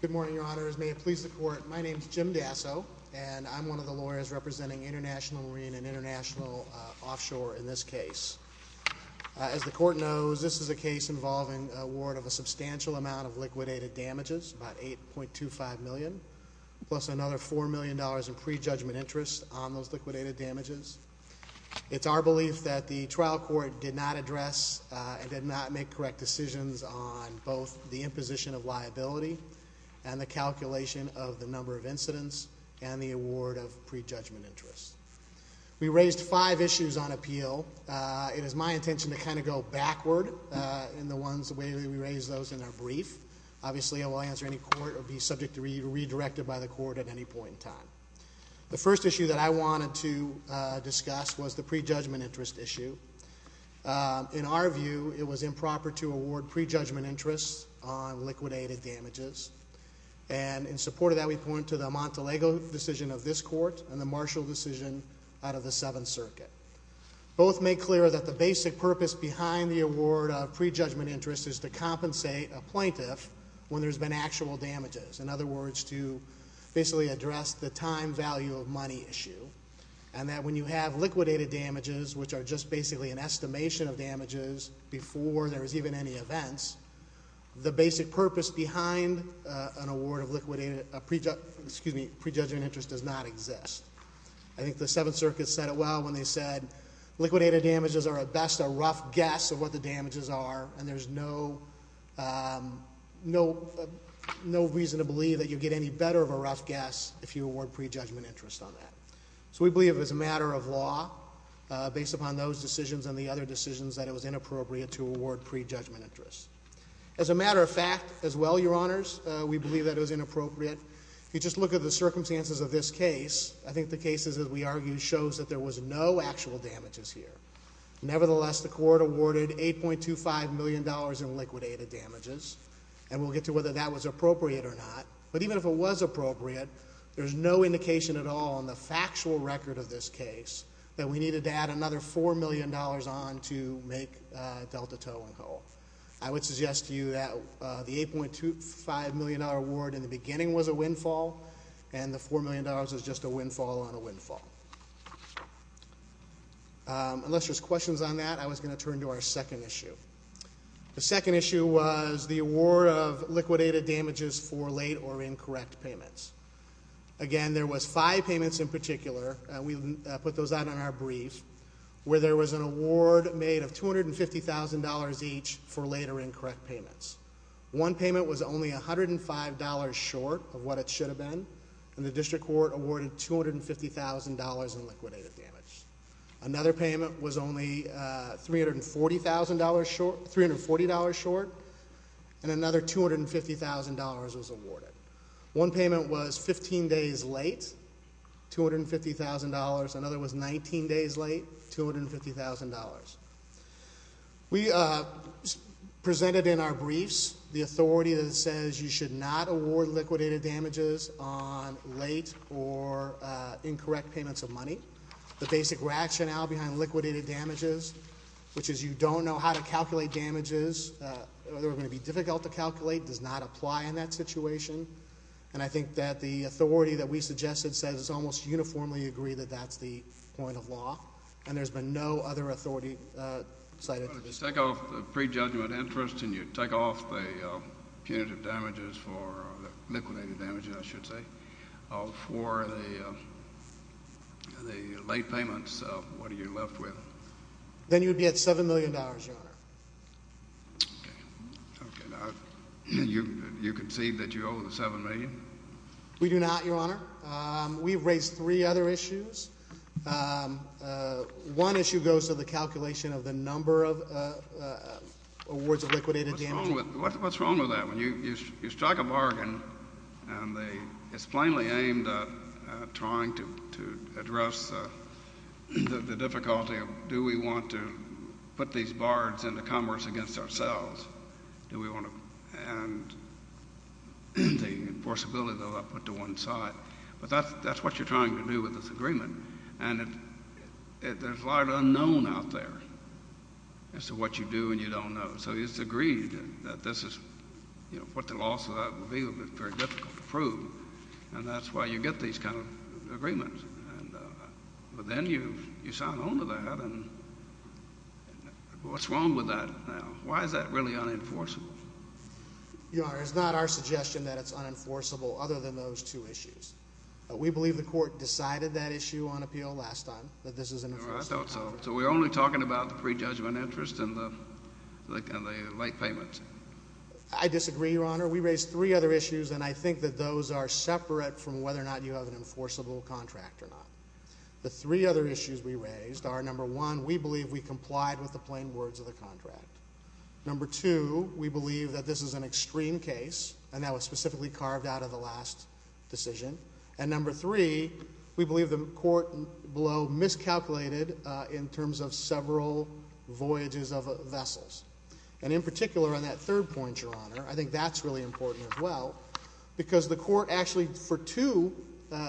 Good morning, Your Honors. May it please the Court, my name is Jim Dasso, and I'm one of the lawyers representing International Marine and International Offshore in this case. As the Court knows, this is a case involving a warrant of a substantial amount of liquidated damages, about $8.25 million, plus another $4 million in pre-judgment interest on those liquidated damages. It's our belief that the trial court did not address and did not make correct decisions on both the imposition of liability and the calculation of the number of incidents and the award of pre-judgment interest. We raised five issues on appeal. It is my intention to kind of go backward in the ways we raise those in our brief. Obviously, I will answer any court or be subject to be redirected by the Court at any point in time. The first issue that I wanted to discuss was the pre-judgment interest issue. In our view, it was improper to award pre-judgment interest on liquidated damages. And in support of that, we point to the Montelego decision of this Court and the Marshall decision out of the Seventh Circuit. Both make clear that the basic purpose behind the award of pre-judgment interest is to compensate a plaintiff when there's been actual damages. In other words, to basically address the time value of money issue. And that when you have liquidated damages, which are just basically an estimation of damages before there's even any events, the basic purpose behind an award of liquidated, excuse me, pre-judgment interest does not exist. I think the Seventh Circuit said it well when they said liquidated damages are at best a rough guess of what the damages are and there's no reason to believe that you get any better of a rough guess if you award pre-judgment interest on that. So we believe it's a matter of law based upon those decisions and the other decisions that it was inappropriate to award pre-judgment interest. As a matter of fact, as well, Your Honors, we believe that it was inappropriate. If you just look at the circumstances of this case, I think the cases, as we argue, shows that there was no actual damages here. Nevertheless, the Court awarded $8.25 million in liquidated damages. And we'll get to whether that was appropriate or not. But even if it was appropriate, there's no indication at all on the factual record of this case that we needed to add another $4 million on to make Delta Toe and Ho. I would suggest to you that the $8.25 million award in the beginning was a windfall and the $4 million is just a windfall on a windfall. Unless there's questions on that, I was going to turn to our second issue. The second issue was the award of liquidated damages for late or incorrect payments. Again, there was five payments in particular, and we put those out on our brief, where there was an award made of $250,000 each for late or incorrect payments. One payment was only $105 short of what it should have been, and the District Court awarded $250,000 in liquidated damage. Another payment was only $340,000 short and another $250,000 was awarded. One payment was 15 days late, $250,000. Another was 19 days late, $250,000. We presented in our briefs the authority that says you should not award liquidated damages on late or incorrect payments of money. The basic rationale behind liquidated damages, which is you don't know how to calculate damages, they're going to be difficult to calculate, does not apply in that situation. And I think that the authority that we suggested says it's almost uniformly agreed that that's the point of law, and there's been no other authority cited. But if you take off the prejudgment interest and you take off the punitive damages for the liquidated damages, I should say, for the late payments, what are you left with? Then you'd be at $7 million, Your Honor. Okay. Now, you concede that you owe the $7 million? We do not, Your Honor. We've raised three other issues. One issue goes to the calculation of the number of awards of liquidated damages. What's wrong with that? When you strike a bargain and it's plainly aimed at trying to do we want to put these bards into commerce against ourselves? Do we want to end the enforceability that I put to one side? But that's what you're trying to do with this agreement. And there's a lot of the unknown out there as to what you do and you don't know. So it's agreed that this is what the law will be, but it's very difficult to prove. And that's why you get these kind of agreements. But then you sound on to that and what's wrong with that now? Why is that really unenforceable? Your Honor, it's not our suggestion that it's unenforceable other than those two issues. We believe the Court decided that issue on appeal last time, that this is an enforceable contract. I thought so. So we're only talking about the prejudgment interest and the late payments? I disagree, Your Honor. We raised three other issues and I think that those are separate from whether or not you have an enforceable contract or not. The three other issues we raised are number one, we believe we complied with the plain words of the contract. Number two, we believe that this is an extreme case and that was specifically carved out of the last decision. And number three, we believe the Court below miscalculated in terms of several voyages of vessels. And in particular on that third point, Your Honor, I think that's really important as well because the Court actually for two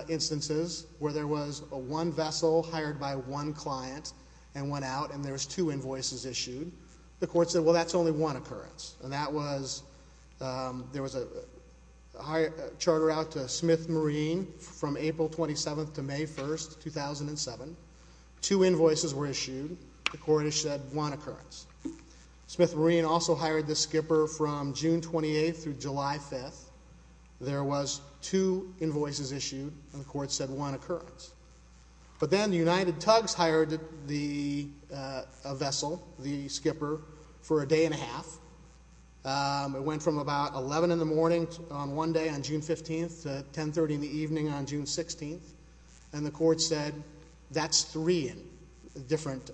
instances where there was a one vessel hired by one client and went out and there was two invoices issued, the Court said, well, that's only one occurrence. And that was, there was a charter out to Smith Marine from April 27th to May 1st, 2007. Two invoices were issued. The Court has said one occurrence. Smith Marine also hired the skipper from June 28th through July 5th. There was two invoices issued and the Court said one occurrence. But then the United Tugs hired the vessel, the skipper, for a day and a half. It went from about 11 in the morning on one day on June 15th to 10.30 in the evening on June 16th. And the Court said that's three in different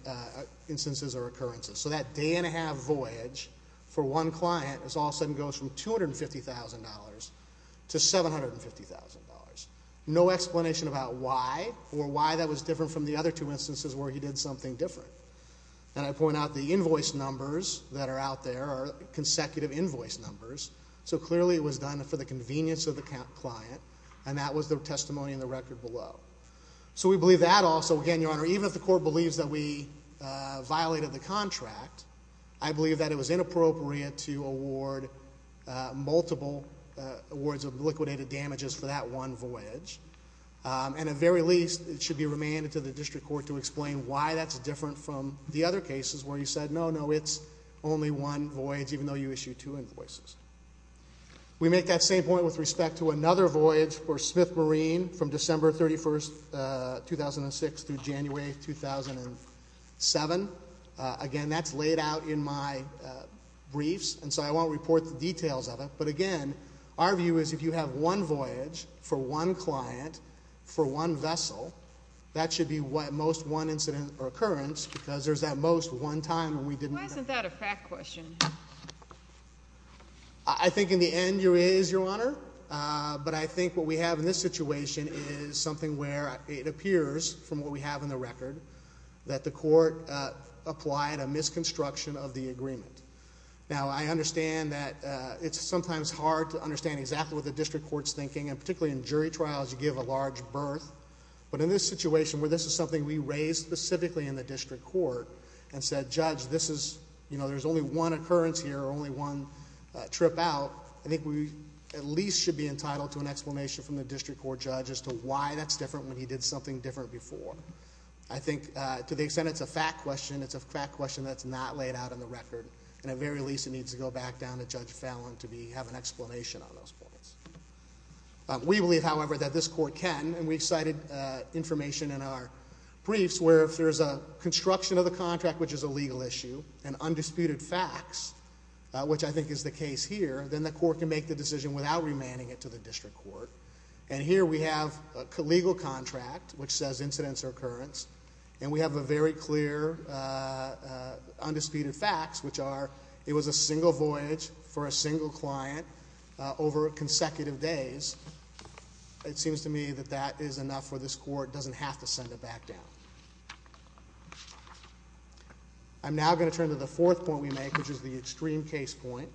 instances or occurrences. So that day and a half voyage for one client is all of a sudden goes from $250,000 to $750,000. No explanation about why or why that was different from the other two instances where he did something different. And I point out the invoice numbers that are out there are consecutive invoice numbers. So clearly it was done for the convenience of the client and that was the testimony in the record below. So we believe that also, again, Your Honor, even if the Court believes that we violated the contract, I believe that it was inappropriate to award multiple awards of liquidated damages for that one voyage. And at the very least, it should be remanded to the District Court to explain why that's different from the other cases where you said, no, no, it's only one voyage even though you issued two invoices. We make that same point with respect to another case, 2006 through January 2007. Again, that's laid out in my briefs. And so I won't report the details of it. But again, our view is if you have one voyage for one client for one vessel, that should be at most one incident or occurrence because there's at most one time when we didn't... Why isn't that a fact question? I think in the end, it is, Your Honor. But I think what we have in this situation is something where it appears from what we have in the record that the Court applied a misconstruction of the agreement. Now, I understand that it's sometimes hard to understand exactly what the District Court's thinking, and particularly in jury trials, you give a large berth. But in this situation where this is something we raised specifically in the District Court and said, Judge, this is, you know, there's only one occurrence here or only one trip out, I think we at least should be entitled to an explanation from the District Court judge as to why that's different when he did something different before. I think to the extent it's a fact question, it's a fact question that's not laid out in the record. And at the very least, it needs to go back down to Judge Fallon to have an explanation on those points. We believe, however, that this Court can, and we've cited information in our briefs where if there's a construction of the contract, which is a legal issue, and undisputed facts, which I think is the case here, then the Court can make the decision without remanding it to the District Court. And here we have a legal contract, which says incidents or occurrence, and we have a very clear undisputed facts, which are it was a single voyage for a single client over consecutive days. It seems to me that that is enough for this Court, doesn't have to send it back down. I'm now going to turn to the fourth point we make, which is the extreme case point.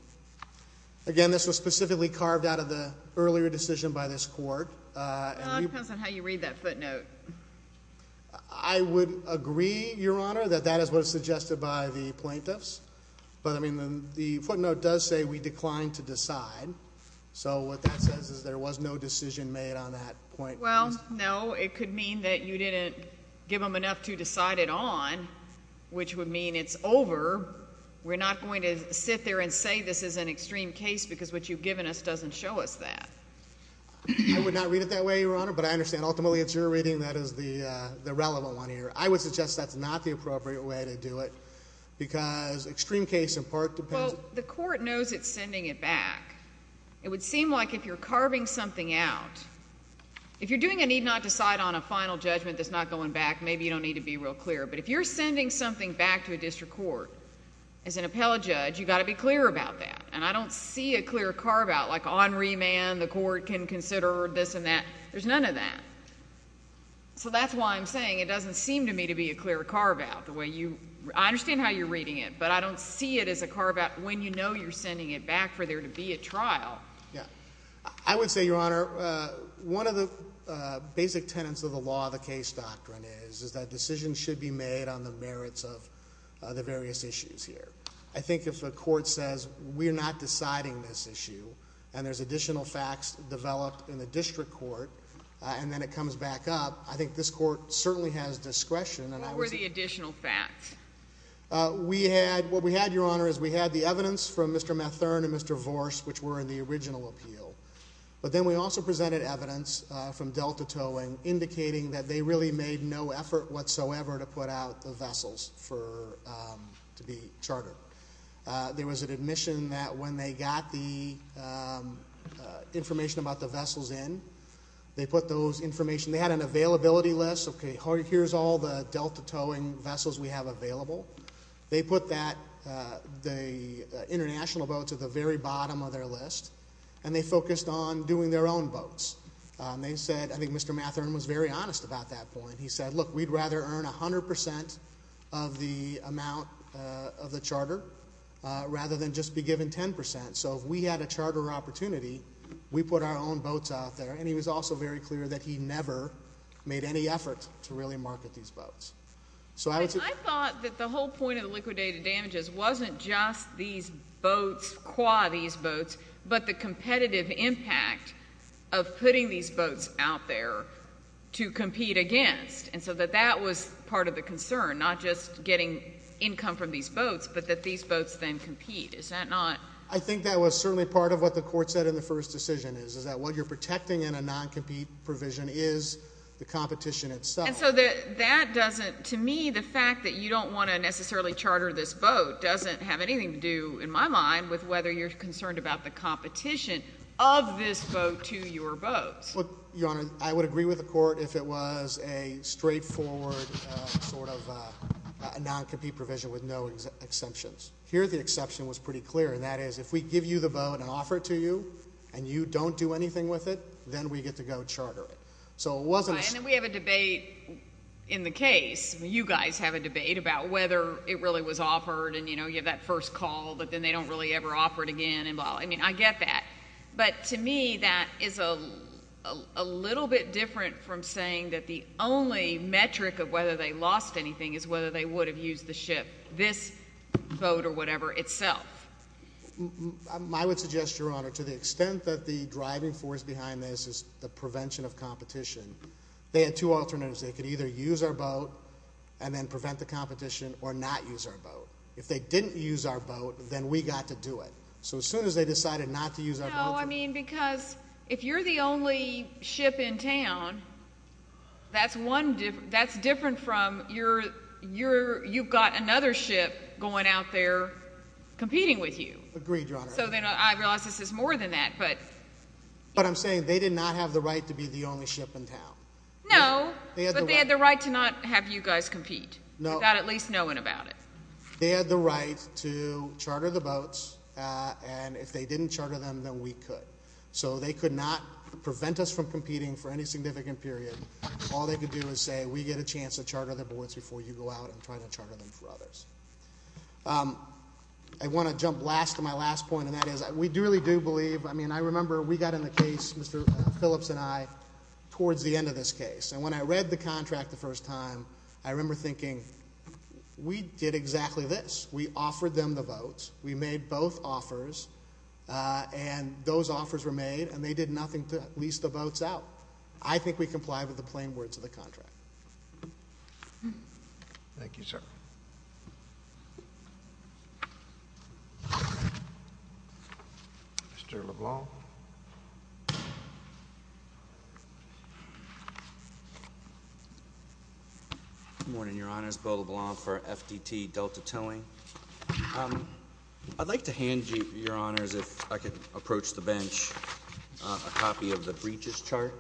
Again, this was specifically carved out of the earlier decision by this Court. Well, it depends on how you read that footnote. I would agree, Your Honor, that that is what is suggested by the plaintiffs. But, I mean, the footnote does say we declined to decide. So what that says is there was no decision made on that point. Well, no, it could mean that you didn't give them enough to decide it on, which would mean it's over. We're not going to sit there and say this is an extreme case because what you've given us doesn't show us that. I would not read it that way, Your Honor, but I understand ultimately it's your reading that is the relevant one here. I would suggest that's not the appropriate way to do it because extreme case in part depends Well, the Court knows it's sending it back. It would seem like if you're carving something out, if you're doing a need not decide on a final judgment that's not going back, maybe you don't need to be real clear. But if you're sending something back to a district court as an appellate judge, you've got to be clear about that. And I don't see a clear carve out like on remand the Court can consider this and that. There's none of that. So that's why I'm saying it doesn't seem to me to be a clear carve out. I understand how you're reading it, but I don't see it as a carve out when you know you're sending it back for there to be a trial. I would say, Your Honor, one of the basic tenets of the law of the case doctrine is that decisions should be made on the merits of the various issues here. I think if a court says we're not deciding this issue and there's additional facts developed in the district court and then it comes back up, I think this Court certainly has discretion. What were the additional facts? We had, what we had, Your Honor, is we had the evidence from Mr. Mathurne and Mr. Vorce, which were in the original appeal. But then we also presented evidence from Delta Towing indicating that they really made no effort whatsoever to put out the vessels for, to be chartered. There was an admission that when they got the information about the vessels in, they put those information, they had an availability list, okay, here's all the Delta Towing vessels we have available. They put that, the international boats at the very bottom of their list. And they focused on doing their own boats. They said, I think Mr. Mathurne was very honest about that point. He said, look, we'd rather earn 100% of the amount of the charter rather than just be given 10%. So if we had a charter opportunity, we put our own boats out there. And he was also very clear that he never made any effort to really market these boats. So I thought that the whole point of the liquidated damages wasn't just these boats, qua these boats, but the competitive impact of putting these boats out there to compete against. And so that that was part of the concern, not just getting income from these boats, but that these boats then compete. Is that not? I think that was certainly part of what the court said in the first decision is, is that what you're protecting in a non-compete provision is the competition itself. And so that doesn't, to me, the fact that you don't want to necessarily charter this boat doesn't have anything to do, in my mind, with whether you're concerned about the competition of this boat to your boat. Well, Your Honor, I would agree with the court if it was a straightforward sort of a non-compete provision with no exemptions. Here, the exception was pretty clear. And that is, if we give you the boat and offer it to you and you don't do anything with it, then we get to go charter it. So it wasn't. And then we have a debate in the case. You guys have a debate about whether it really was offered and, you know, you have that first call, but then they don't really ever offer it again and blah. I mean, I get that. But to me, that is a little bit different from saying that the only metric of whether they lost anything is whether they would have used the ship, this boat or whatever itself. I would suggest, Your Honor, to the extent that the driving force behind this is the prevention of competition, they had two alternatives. They could either use our boat and then prevent the competition or not use our boat. If they didn't use our boat, then we got to do it. So as soon as they decided not to use our boat... No, I mean, because if you're the only ship in town, that's different from you've got another ship going out there competing with you. Agreed, Your Honor. So then I realize this is more than that, but... But I'm saying they did not have the right to be the only ship in town. No, but they had the right to not have you guys compete. No. Without at least knowing about it. They had the right to charter the boats, and if they didn't charter them, then we could. So they could not prevent us from competing for any significant period. All they could do is say, we get a chance to charter the boats before you go out and try to charter them for others. I want to jump last to my last point, and that is we really do believe, I mean, I remember we got in the case, Mr. Phillips and I, towards the end of this case. And when I read the saying, we did exactly this, we offered them the votes, we made both offers, and those offers were made, and they did nothing to lease the boats out. I think we comply with the plain words of the contract. Thank you, sir. Mr. LeBlanc. Good morning, Your Honors. Bill LeBlanc for FDT Delta Towing. I'd like to hand you, Your Honors, if I could approach the bench, a copy of the breaches chart.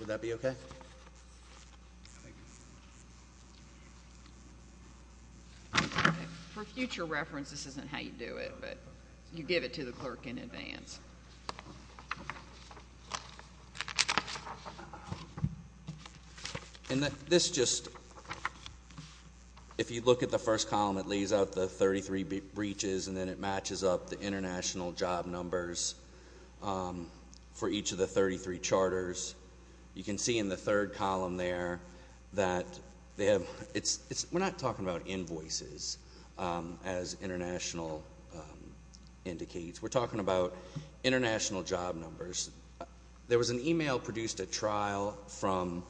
Would that be okay? For future reference, this isn't how you do it, but you give it to the clerk in advance. And this just, if you look at the first column, it leaves out the 33 breaches, and then it matches up the international job numbers for each of the 33 charters. You can see in the third column there that we're not talking about invoices, as international indicates. We're talking about international job numbers. There was an email produced at trial from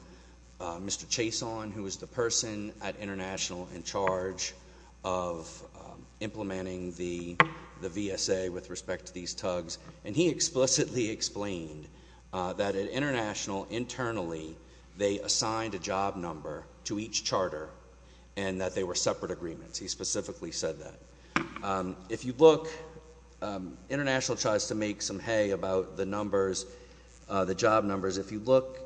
Mr. Chason, who is the person at International in charge of implementing the VSA with respect to these tugs, and he explicitly explained that at International, internally, they assigned a job number to each charter and that they were separate agreements. He specifically said that. If you look, International tries to make some hay about the numbers, the job numbers. If you look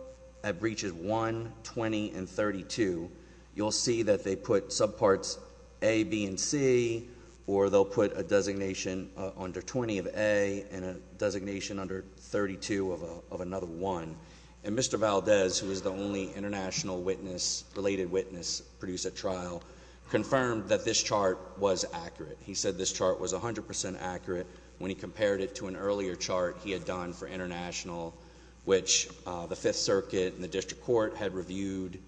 at breaches 1, 20, and 32, you'll see that they put subparts A, B, and C, or they'll put a designation under 20 of A and a designation under 32 of another 1. And Mr. Valdez, who is the only international witness, related witness, produced at trial, confirmed that this chart was accurate. He said this chart was 100% accurate when he compared it to an earlier chart he had done for International, which the Fifth Circuit and the District Court had reviewed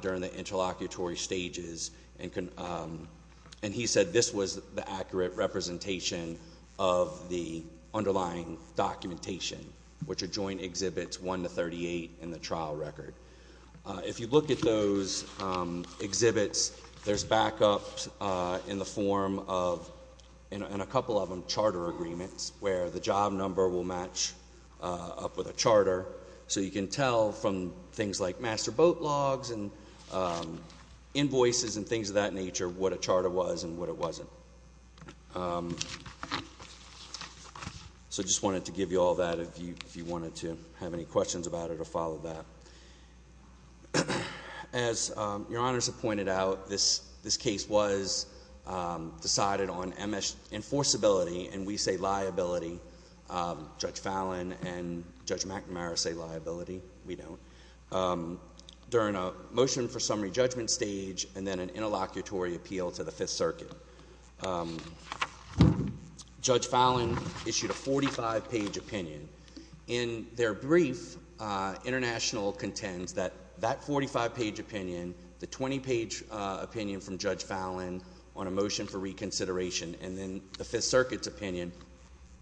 during the interlocutory stages. And he said this was the accurate representation of the underlying documentation, which are joint exhibits 1 to 38 in the trial record. If you look at those exhibits, there's backups in the form of, and a couple of them, charter agreements, where the job number will match up with a charter. So you can tell from things like master boat logs and invoices and things of that nature what a charter was and what it wasn't. So I just wanted to give you all that if you wanted to have any questions about it or follow that. As your honors have pointed out, this case was decided on MS enforceability, and we say liability. Judge Fallon and Judge McNamara say liability. We don't. During a motion for summary judgment stage and then an interlocutory appeal to the Fifth Circuit, Judge Fallon issued a 45-page opinion. In their brief, International contends that that 45-page opinion, the 20-page opinion from Judge Fallon on a motion for reconsideration, and then the Fifth Circuit's opinion,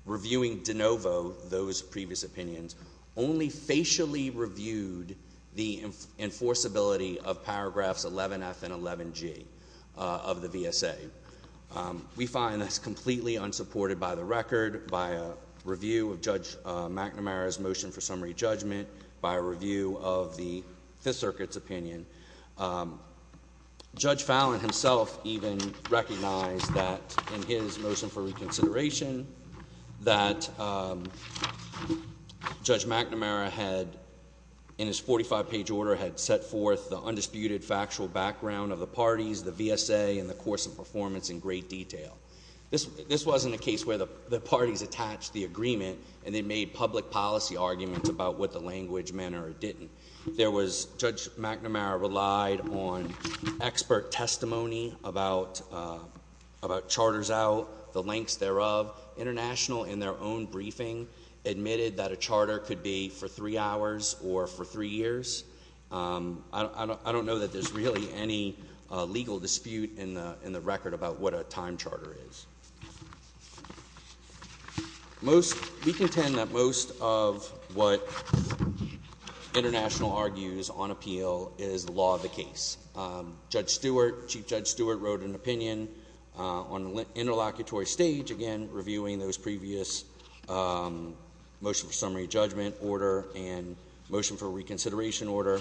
reviewing de novo those previous opinions, only facially reviewed the enforceability of paragraphs 11F and 11G of the VSA. We find that's completely unsupported by the record, by a review of Judge McNamara's motion for summary judgment, by a review of the Fifth Circuit's opinion. Judge Fallon himself even recognized that in his motion for reconsideration that Judge McNamara had, in his 45-page order, had set forth the undisputed factual background of the parties, the VSA, and the course of performance in great detail. This wasn't a case where the parties attached the agreement and they made public policy arguments about the language, manner, or didn't. Judge McNamara relied on expert testimony about charters out, the lengths thereof. International, in their own briefing, admitted that a charter could be for three hours or for three years. I don't know that there's really any legal dispute in the record about what a time charter is. We contend that most of what International argues on appeal is the law of the case. Judge Stewart, Chief Judge Stewart, wrote an opinion on the interlocutory stage, again, reviewing those previous motion for summary judgment order and motion for reconsideration order.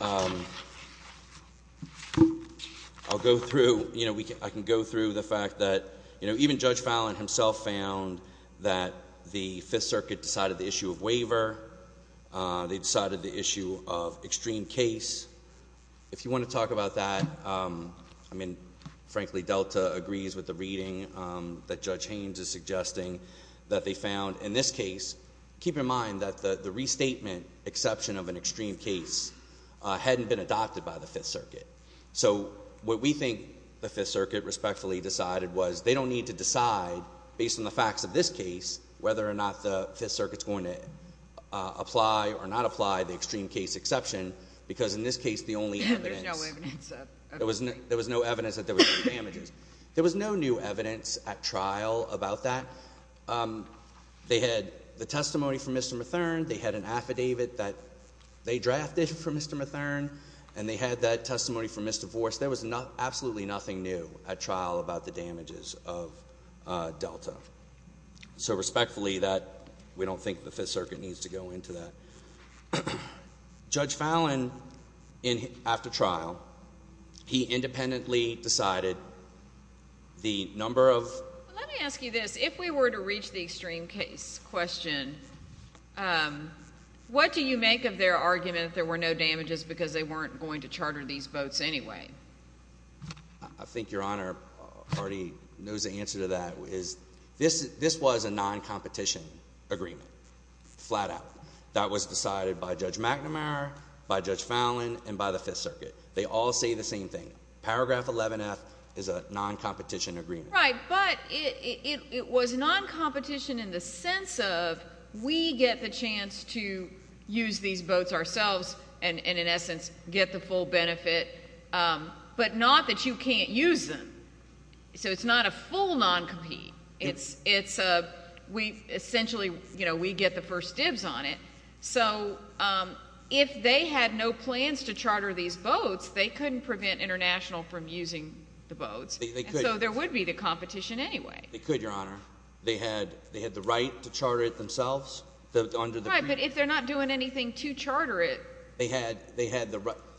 I'll go through, you know, I can go through the fact that, you know, even Judge Fallon himself found that the Fifth Circuit decided the issue of waiver. They decided the issue of extreme case. If you want to talk about that, I mean, frankly, Delta agrees with the reading that Judge Haynes is suggesting that they found in this case. Keep in mind that the restatement exception of an extreme case hadn't been adopted by the Fifth Circuit. So, what we think the Fifth Circuit respectfully decided was they don't need to decide, based on the facts of this case, whether or not the Fifth Circuit's going to apply or not apply the extreme case exception, because in this case, the only evidence. There was no evidence that there was damages. There was no new evidence at trial about that. They had the testimony from Mr. Matherne. They had an affidavit that they drafted for Mr. Matherne, and they had that testimony from Mr. Vorce. There was absolutely nothing new at trial about the damages of Delta. So, respectfully, we don't think the Fifth Circuit needs to go into that. Judge Fallon, after trial, he independently decided the number of— Let me ask you this. If we were to reach the extreme case question, what do you make of their argument that there were no damages because they weren't going to charter these boats anyway? I think Your Honor already knows the answer to that. This was a non-competition agreement, flat out. That was decided by Judge McNamara, by Judge Fallon, and by the Fifth Circuit. They all say the same thing. Paragraph 11-F is a non-competition agreement. Right, but it was non-competition in the sense of we get the chance to use these boats ourselves and, in essence, get the full benefit, but not that you can't use them. So it's not a full non-compete. Essentially, we get the first dibs on it. So if they had no plans to charter these boats, they couldn't prevent International from using the boats. So there would be the competition anyway. They could, Your Honor. They had the right to charter it themselves. But if they're not doing anything to charter it—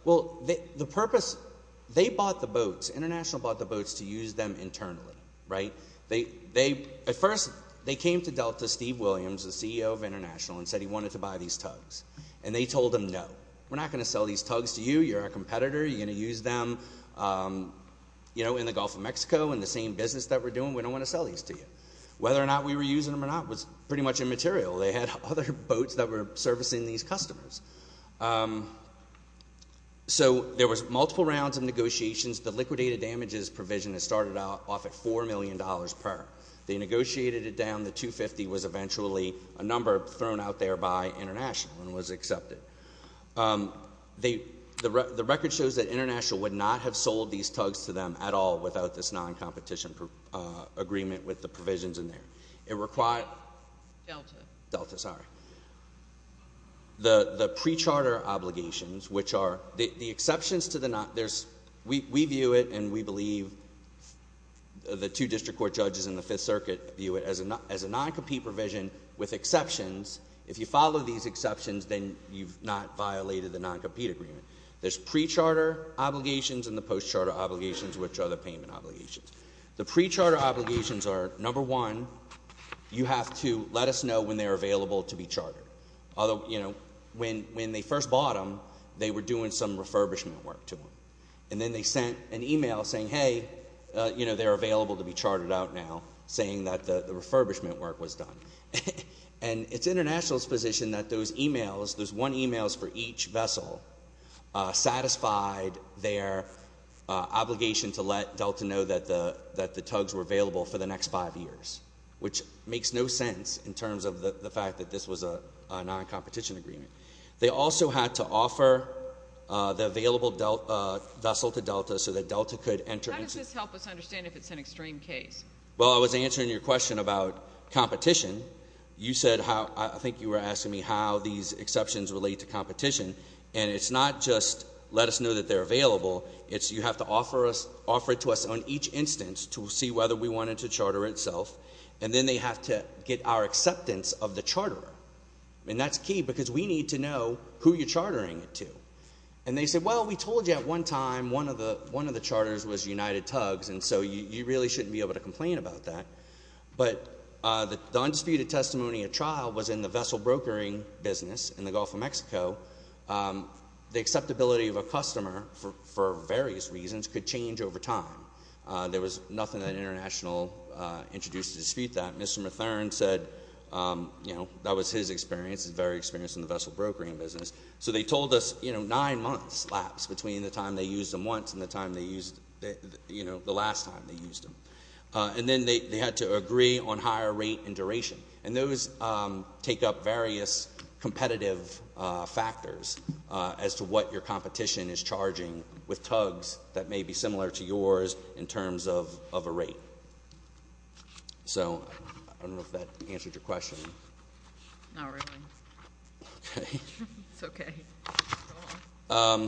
Well, the purpose—they bought the boats. International bought the boats to use them internally. At first, they came to Delta, Steve Williams, the CEO of International, and said he wanted to buy these tugs. And they told him, no, we're not going to sell these tugs to you. You're our competitor. You're going to use them in the Gulf of Mexico in the same business that we're doing. We don't want to sell these to you. Whether or not we were using them or not was pretty much immaterial. They had other boats that were servicing these customers. So there was multiple rounds of negotiations. The liquidated damages provision started off at $4 million per. They negotiated it down. The $250,000 was eventually a number thrown out there by International and was accepted. The record shows that International would not have sold these tugs to them at all without this non-competition agreement with the provisions in there. It required— Delta. Delta, sorry. The pre-charter obligations, which are—the exceptions to the—we view it, and we believe the two district court judges in the Fifth Circuit view it as a non-compete provision with exceptions. If you follow these exceptions, then you've not violated the non-compete agreement. There's pre-charter obligations and the post-charter obligations, which are the payment obligations. The pre-charter obligations are, number one, you have to let us know when they're available to be chartered. Although, you know, when they first bought them, they were doing some refurbishment work to them. And then they sent an email saying, hey, you know, they're available to be chartered out now, saying that the refurbishment work was done. And it's International's position that those emails, those one emails for each vessel, satisfied their obligation to let Delta know that the tugs were available for the next five years, which makes no sense in terms of the fact that this was a non-competition agreement. They also had to offer the available vessel to Delta so that Delta could enter— How does this help us understand if it's an extreme case? Well, I was answering your question about competition. You said how—I think you were asking me how these exceptions relate to competition. And it's not just let us know that they're available. It's you have to offer it to us on each instance to see whether we wanted to charter itself. And then they have to get our acceptance of the charterer. And that's key because we need to know who you're chartering it to. And they said, well, we told you at one of the charters was United Tugs, and so you really shouldn't be able to complain about that. But the undisputed testimony at trial was in the vessel brokering business in the Gulf of Mexico. The acceptability of a customer, for various reasons, could change over time. There was nothing that International introduced to dispute that. Mr. Mathurin said, you know, that was his experience, his very experience in the vessel brokering business. So they told us, you know, nine months lapsed between the time they used them once and the time they used, you know, the last time they used them. And then they had to agree on higher rate and duration. And those take up various competitive factors as to what your competition is charging with tugs that may be similar to yours in terms of a rate. So I don't know if that is true. I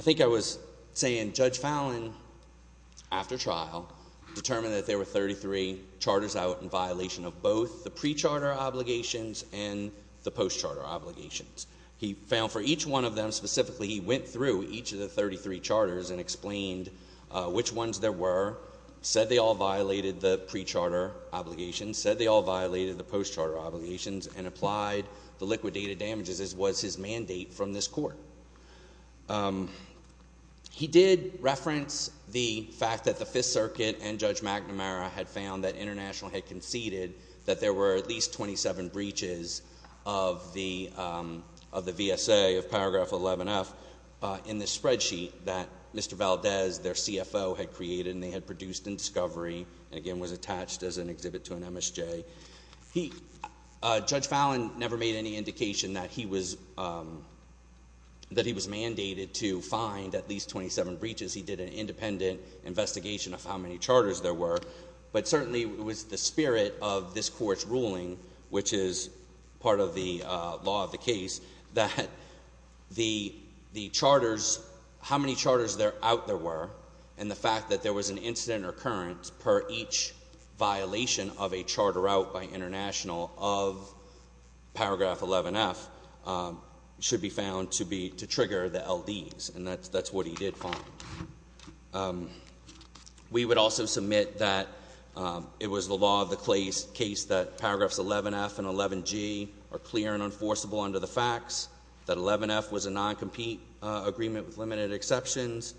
think I was saying Judge Fallon, after trial, determined that there were 33 charters out in violation of both the pre-charter obligations and the post-charter obligations. He found for each one of them specifically, he went through each of the 33 charters and explained which ones there were, said they all violated the pre-charter obligations, said they all violated the post-charter obligations, and applied the liquidated damages as was his mandate from this court. He did reference the fact that the Fifth Circuit and Judge McNamara had found that International had conceded that there were at least 27 breaches of the VSA of paragraph 11F in the spreadsheet that Mr. Valdez, their CFO, had created. And they had produced in discovery and again was attached as an exhibit to an MSJ. Judge Fallon never made any indication that he was mandated to find at least 27 breaches. He did an independent investigation of how many charters there were. But certainly it was the spirit of this court's ruling, which is part of the law of the case, that the charters, how many charters out there were, and the fact that there was an incident or occurrence per each violation of a charter out by International of paragraph 11F should be found to trigger the LDs. And that's what he did find. We would also submit that it was the law of the case that paragraphs 11F and 11G are clear and enforceable under the facts, that 11F was a non-compete agreement with limited exceptions.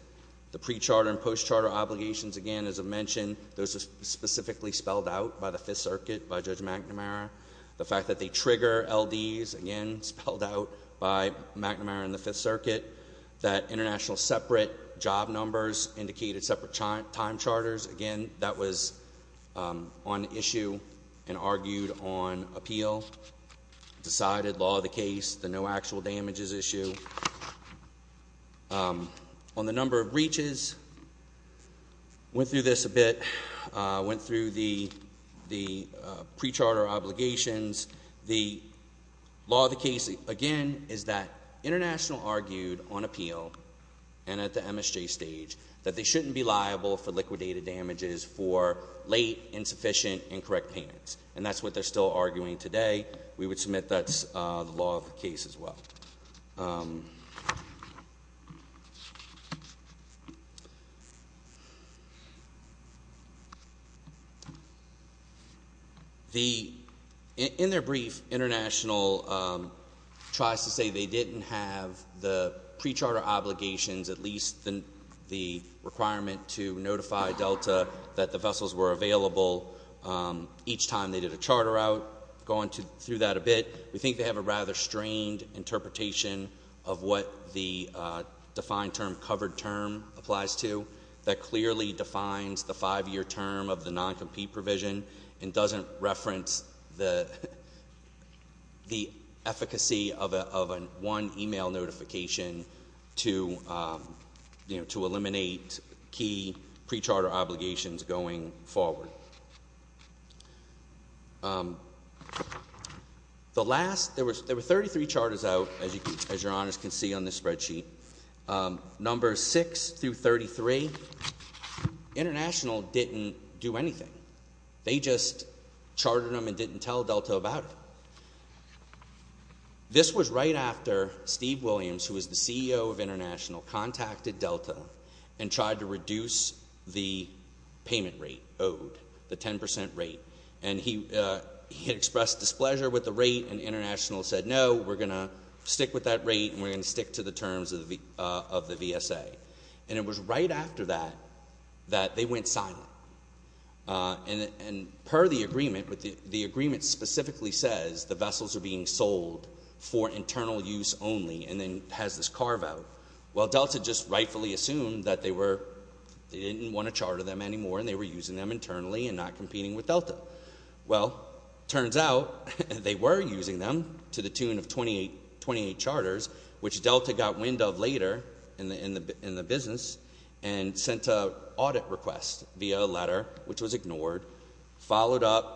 The pre-charter and post-charter obligations, again, as I mentioned, those are specifically spelled out by the Fifth Circuit by Judge McNamara. The fact that they trigger LDs, again, spelled out by McNamara and the Fifth Circuit. That International's separate job numbers indicated separate time charters, again, that was on issue and argued on appeal. Decided law of the case, the no actual damages issue on the number of breaches. Went through this a bit. Went through the pre-charter obligations. The law of the case, again, is that International argued on appeal and at the MSJ stage that they shouldn't be liable for liquidated damages for late, insufficient, incorrect payments. And that's what they're still arguing today. We would submit that's the law of the case as well. In their brief, International tries to say they didn't have the pre-charter obligations, at least the requirement to notify Delta that the vessels were available each time they did a charter going through that a bit. We think they have a rather strained interpretation of what the defined term, covered term applies to that clearly defines the five-year term of the non-compete provision and doesn't reference the efficacy of one email notification to eliminate key pre-charter obligations going forward. There were 33 charters out, as your honors can see on this spreadsheet. Numbers 6 through 33, International didn't do anything. They just chartered them and didn't tell Delta about it. This was right after Steve Williams, who was the CEO of International, contacted Delta and tried to reduce the payment rate owed, the 10% rate. And he expressed displeasure with the rate and International said, no, we're going to stick with that rate and we're going to stick to the terms of the VSA. And it was right after that, that they went silent. And per the agreement, the agreement specifically says the vessels are being Delta just rightfully assumed that they didn't want to charter them anymore and they were using them internally and not competing with Delta. Well, turns out they were using them to the tune of 28 charters, which Delta got wind of later in the business and sent an audit request via a letter, which was ignored, followed up.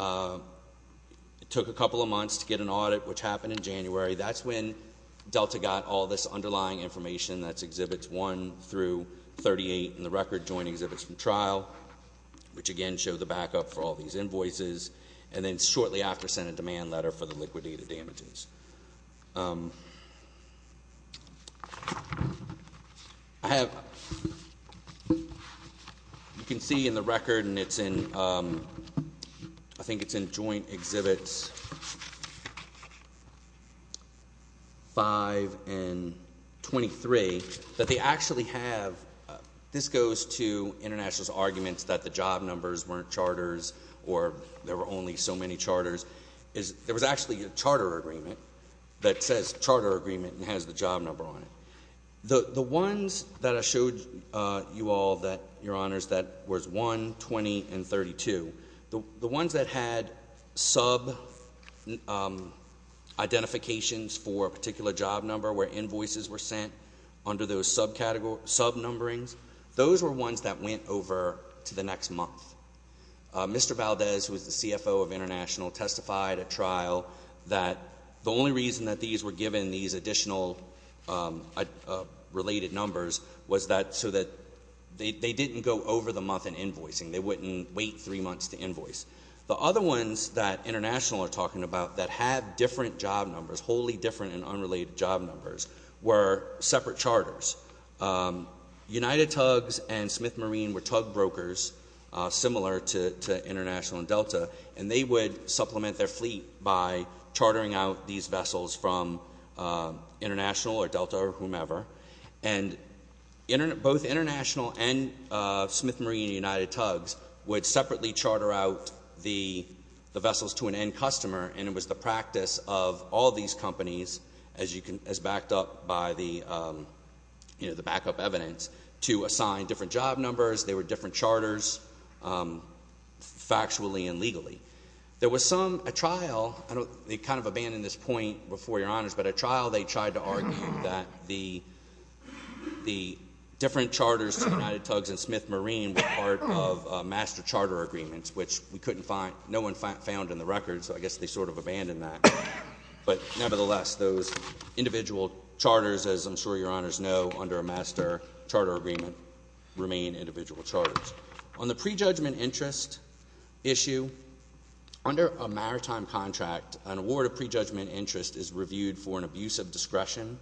It took a couple of months to get an audit, which happened in Exhibits 1 through 38 in the record, Joint Exhibits from Trial, which again, showed the backup for all these invoices. And then shortly after, sent a demand letter for the liquidated they actually have, this goes to internationalist arguments that the job numbers weren't charters or there were only so many charters. There was actually a charter agreement that says charter agreement and has the job number on it. The ones that I showed you all that your honors, that was 1, 20 and 32. The ones that had sub identifications for a particular job number where invoices were sent under those subcategories, sub numberings, those were ones that went over to the next month. Mr. Valdez, who is the CFO of international, testified at trial that the only reason that these were given these additional related numbers was that so that they didn't go over the month in invoicing. They wouldn't wait three months to invoice. The other ones that international are talking about that had different job numbers, wholly different and unrelated job were separate charters. United Tugs and Smith Marine were tug brokers similar to International and Delta and they would supplement their fleet by chartering out these vessels from International or Delta or whomever. And both International and Smith Marine and United Tugs would separately charter out the vessels to an end customer and it was the practice of all these companies as backed up by the backup evidence to assign different job numbers. They were different charters factually and legally. There was some, a trial, they kind of abandoned this point before your honors, but a trial they tried to argue that the different charters to United Tugs and Smith Marine were part of master charter agreements which we couldn't find, no one found in the list. Those individual charters as I'm sure your honors know under a master charter agreement remain individual charters. On the prejudgment interest issue, under a maritime contract, an award of prejudgment interest is reviewed for an abuse of discretion.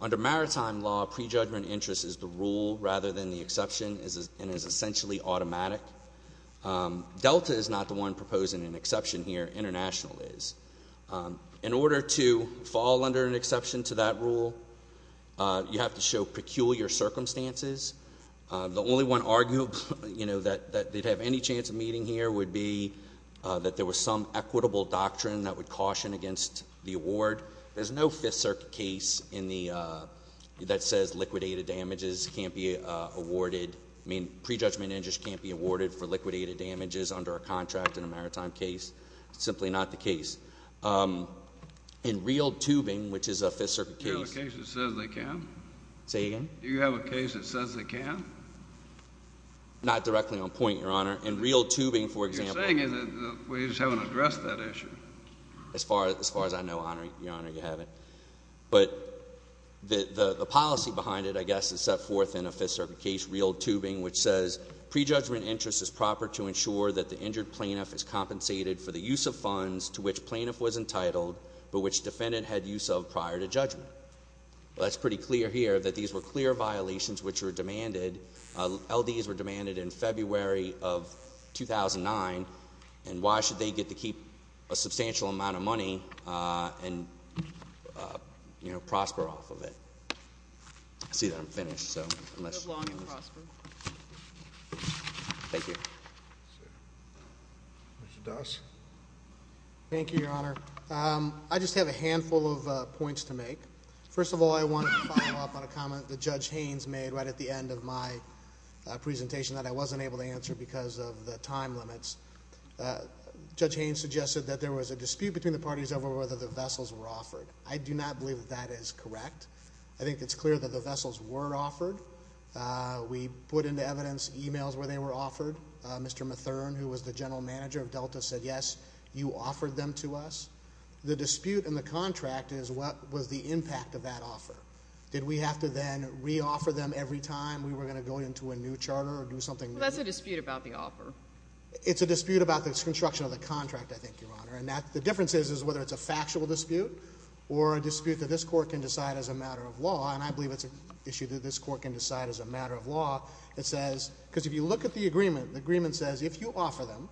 Under maritime law, prejudgment interest is the rule rather than the exception and is essentially automatic. Delta is not the one proposing an exception here, International is. In order to fall under an exception to that rule, you have to show peculiar circumstances. The only one arguable, you know, that they'd have any chance of meeting here would be that there was some equitable doctrine that would caution against the award. There's no Fifth Circuit case in the, that says liquidated damages can't be awarded, I mean, prejudgment interest can't be awarded for liquidated damages under a contract in a maritime case. Simply not the case. In real tubing, which is a Fifth Circuit case. Do you have a case that says they can? Say again? Do you have a case that says they can? Not directly on point, your honor. In real tubing, for example. You're saying that we just haven't addressed that issue. As far as I know, your honor, you haven't. But the policy behind it, I guess, is set forth in a Fifth Circuit case, real tubing, which says prejudgment interest is proper to ensure that the injured plaintiff is compensated for the use of funds to which plaintiff was entitled, but which defendant had use of prior to judgment. Well, that's pretty clear here that these were clear violations which were demanded, LDs were demanded in February of 2009, and why should they get to keep a substantial amount of prosper off of it? I see that I'm finished, so. Thank you. Mr. Doss? Thank you, your honor. I just have a handful of points to make. First of all, I wanted to follow up on a comment that Judge Haynes made right at the end of my presentation that I wasn't able to answer because of the time limits. Judge Haynes suggested that there was a dispute between the parties over whether the vessels were offered. I do not believe that that is correct. I think it's clear that the vessels were offered. We put into evidence emails where they were offered. Mr. Matherne, who was the general manager of Delta, said, yes, you offered them to us. The dispute in the contract is what was the impact of that offer. Did we have to then re-offer them every time we were going to go into a new charter or do something new? Well, that's a dispute about the offer. It's a dispute about the construction of the contract, I think, your honor. And that, is whether it's a factual dispute or a dispute that this court can decide as a matter of law. And I believe it's an issue that this court can decide as a matter of law. It says, because if you look at the agreement, the agreement says, if you offer them,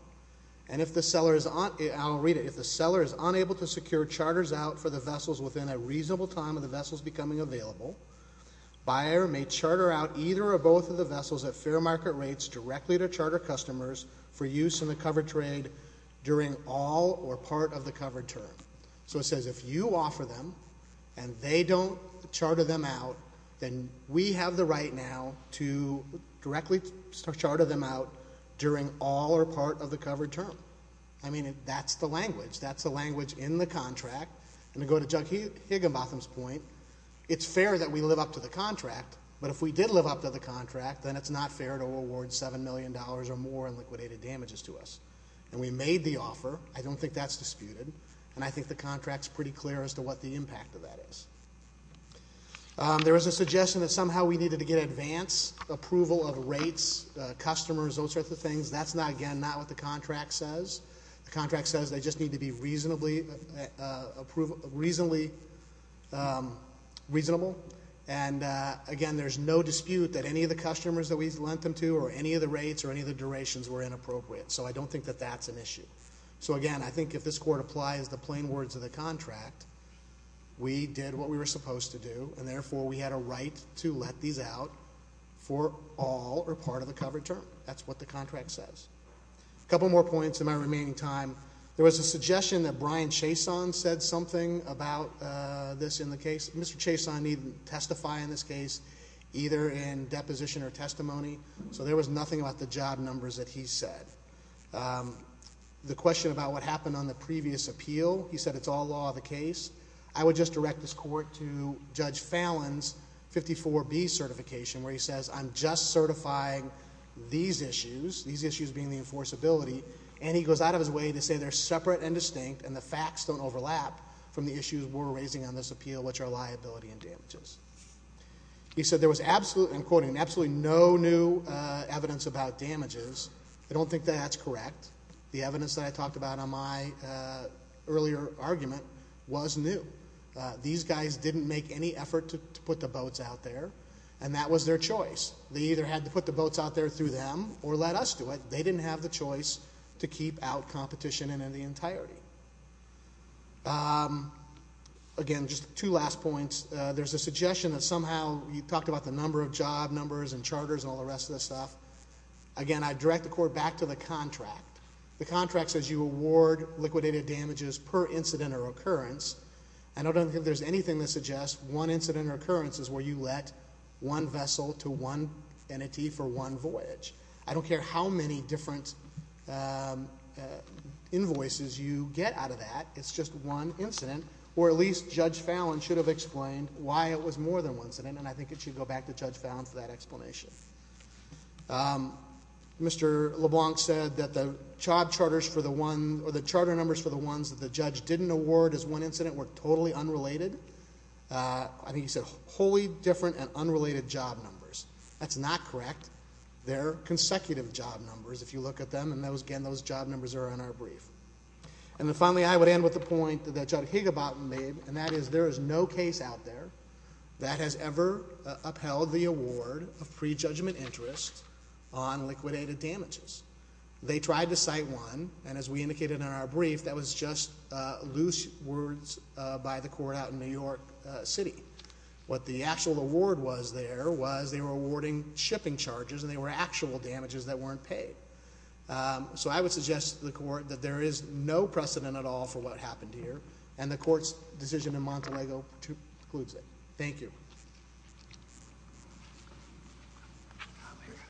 and if the seller is, I'll read it, if the seller is unable to secure charters out for the vessels within a reasonable time of the vessels becoming available, buyer may charter out either or both of the vessels at fair market rates directly to charter customers for use in the covered trade during all or part of the covered term. So it says, if you offer them and they don't charter them out, then we have the right now to directly charter them out during all or part of the covered term. I mean, that's the language. That's the language in the contract. And to go to Judge Higginbotham's point, it's fair that we live up to the contract. But if we did live up to the contract, then it's not fair to award $7 million or more in liquidated damages to us. And we made the offer. I don't think that's disputed. And I think the contract's pretty clear as to what the impact of that is. There was a suggestion that somehow we needed to get advance approval of rates, customers, those sorts of things. That's not, again, not what the contract says. The contract says they just need to be reasonably reasonable. And again, there's no dispute that any of the customers that we lent them to or any of the rates or any of the durations were inappropriate. So I don't think that that's an issue. So again, I think if this court applies the plain words of the contract, we did what we were supposed to do. And therefore, we had a right to let these out for all or part of the covered term. That's what the contract says. A couple more points in my remaining time. There was a suggestion that Brian Chason said something about this in the case. Mr. Chason needed to testify in this case, either in deposition or testimony. So there was nothing about the job numbers that he said. The question about what happened on the previous appeal, he said it's all law of the case. I would just direct this court to Judge Fallon's 54B certification, where he says I'm just certifying these issues, these issues being the enforceability. And he goes out of his way to say they're separate and distinct and the facts don't overlap from the issues we're raising on this appeal, which are liability and damages. He said there was absolutely, I'm quoting, absolutely no new evidence about damages. I don't think that that's correct. The evidence that I talked about on my earlier argument was new. These guys didn't make any effort to put the boats out there and that was their choice. They either had to put the boats out there through them or let us do it. They didn't have the choice to keep out you talked about the number of job numbers and charters and all the rest of this stuff. Again, I direct the court back to the contract. The contract says you award liquidated damages per incident or occurrence. I don't think there's anything that suggests one incident or occurrence is where you let one vessel to one entity for one voyage. I don't care how many different invoices you get out of that. It's just one incident. Or at least Judge Fallon should have explained why it was more than one incident and I think it should go back to Judge Fallon for that explanation. Mr. LeBlanc said that the job charters for the one or the charter numbers for the ones that the judge didn't award as one incident were totally unrelated. I think he said wholly different and unrelated job numbers. That's not correct. They're consecutive job numbers if you look at them and again those job numbers are in our brief. And then finally I would end with a point that Judge Higobarton made and that is there is no case out there that has ever upheld the award of prejudgment interest on liquidated damages. They tried to cite one and as we indicated in our brief that was just loose words by the court out in New York City. What the actual award was there was they were awarding shipping charges and they were actual damages that weren't paid. So I would suggest to the court that there is no precedent at all for what happened here and the court's decision in Montelego concludes it. Thank you.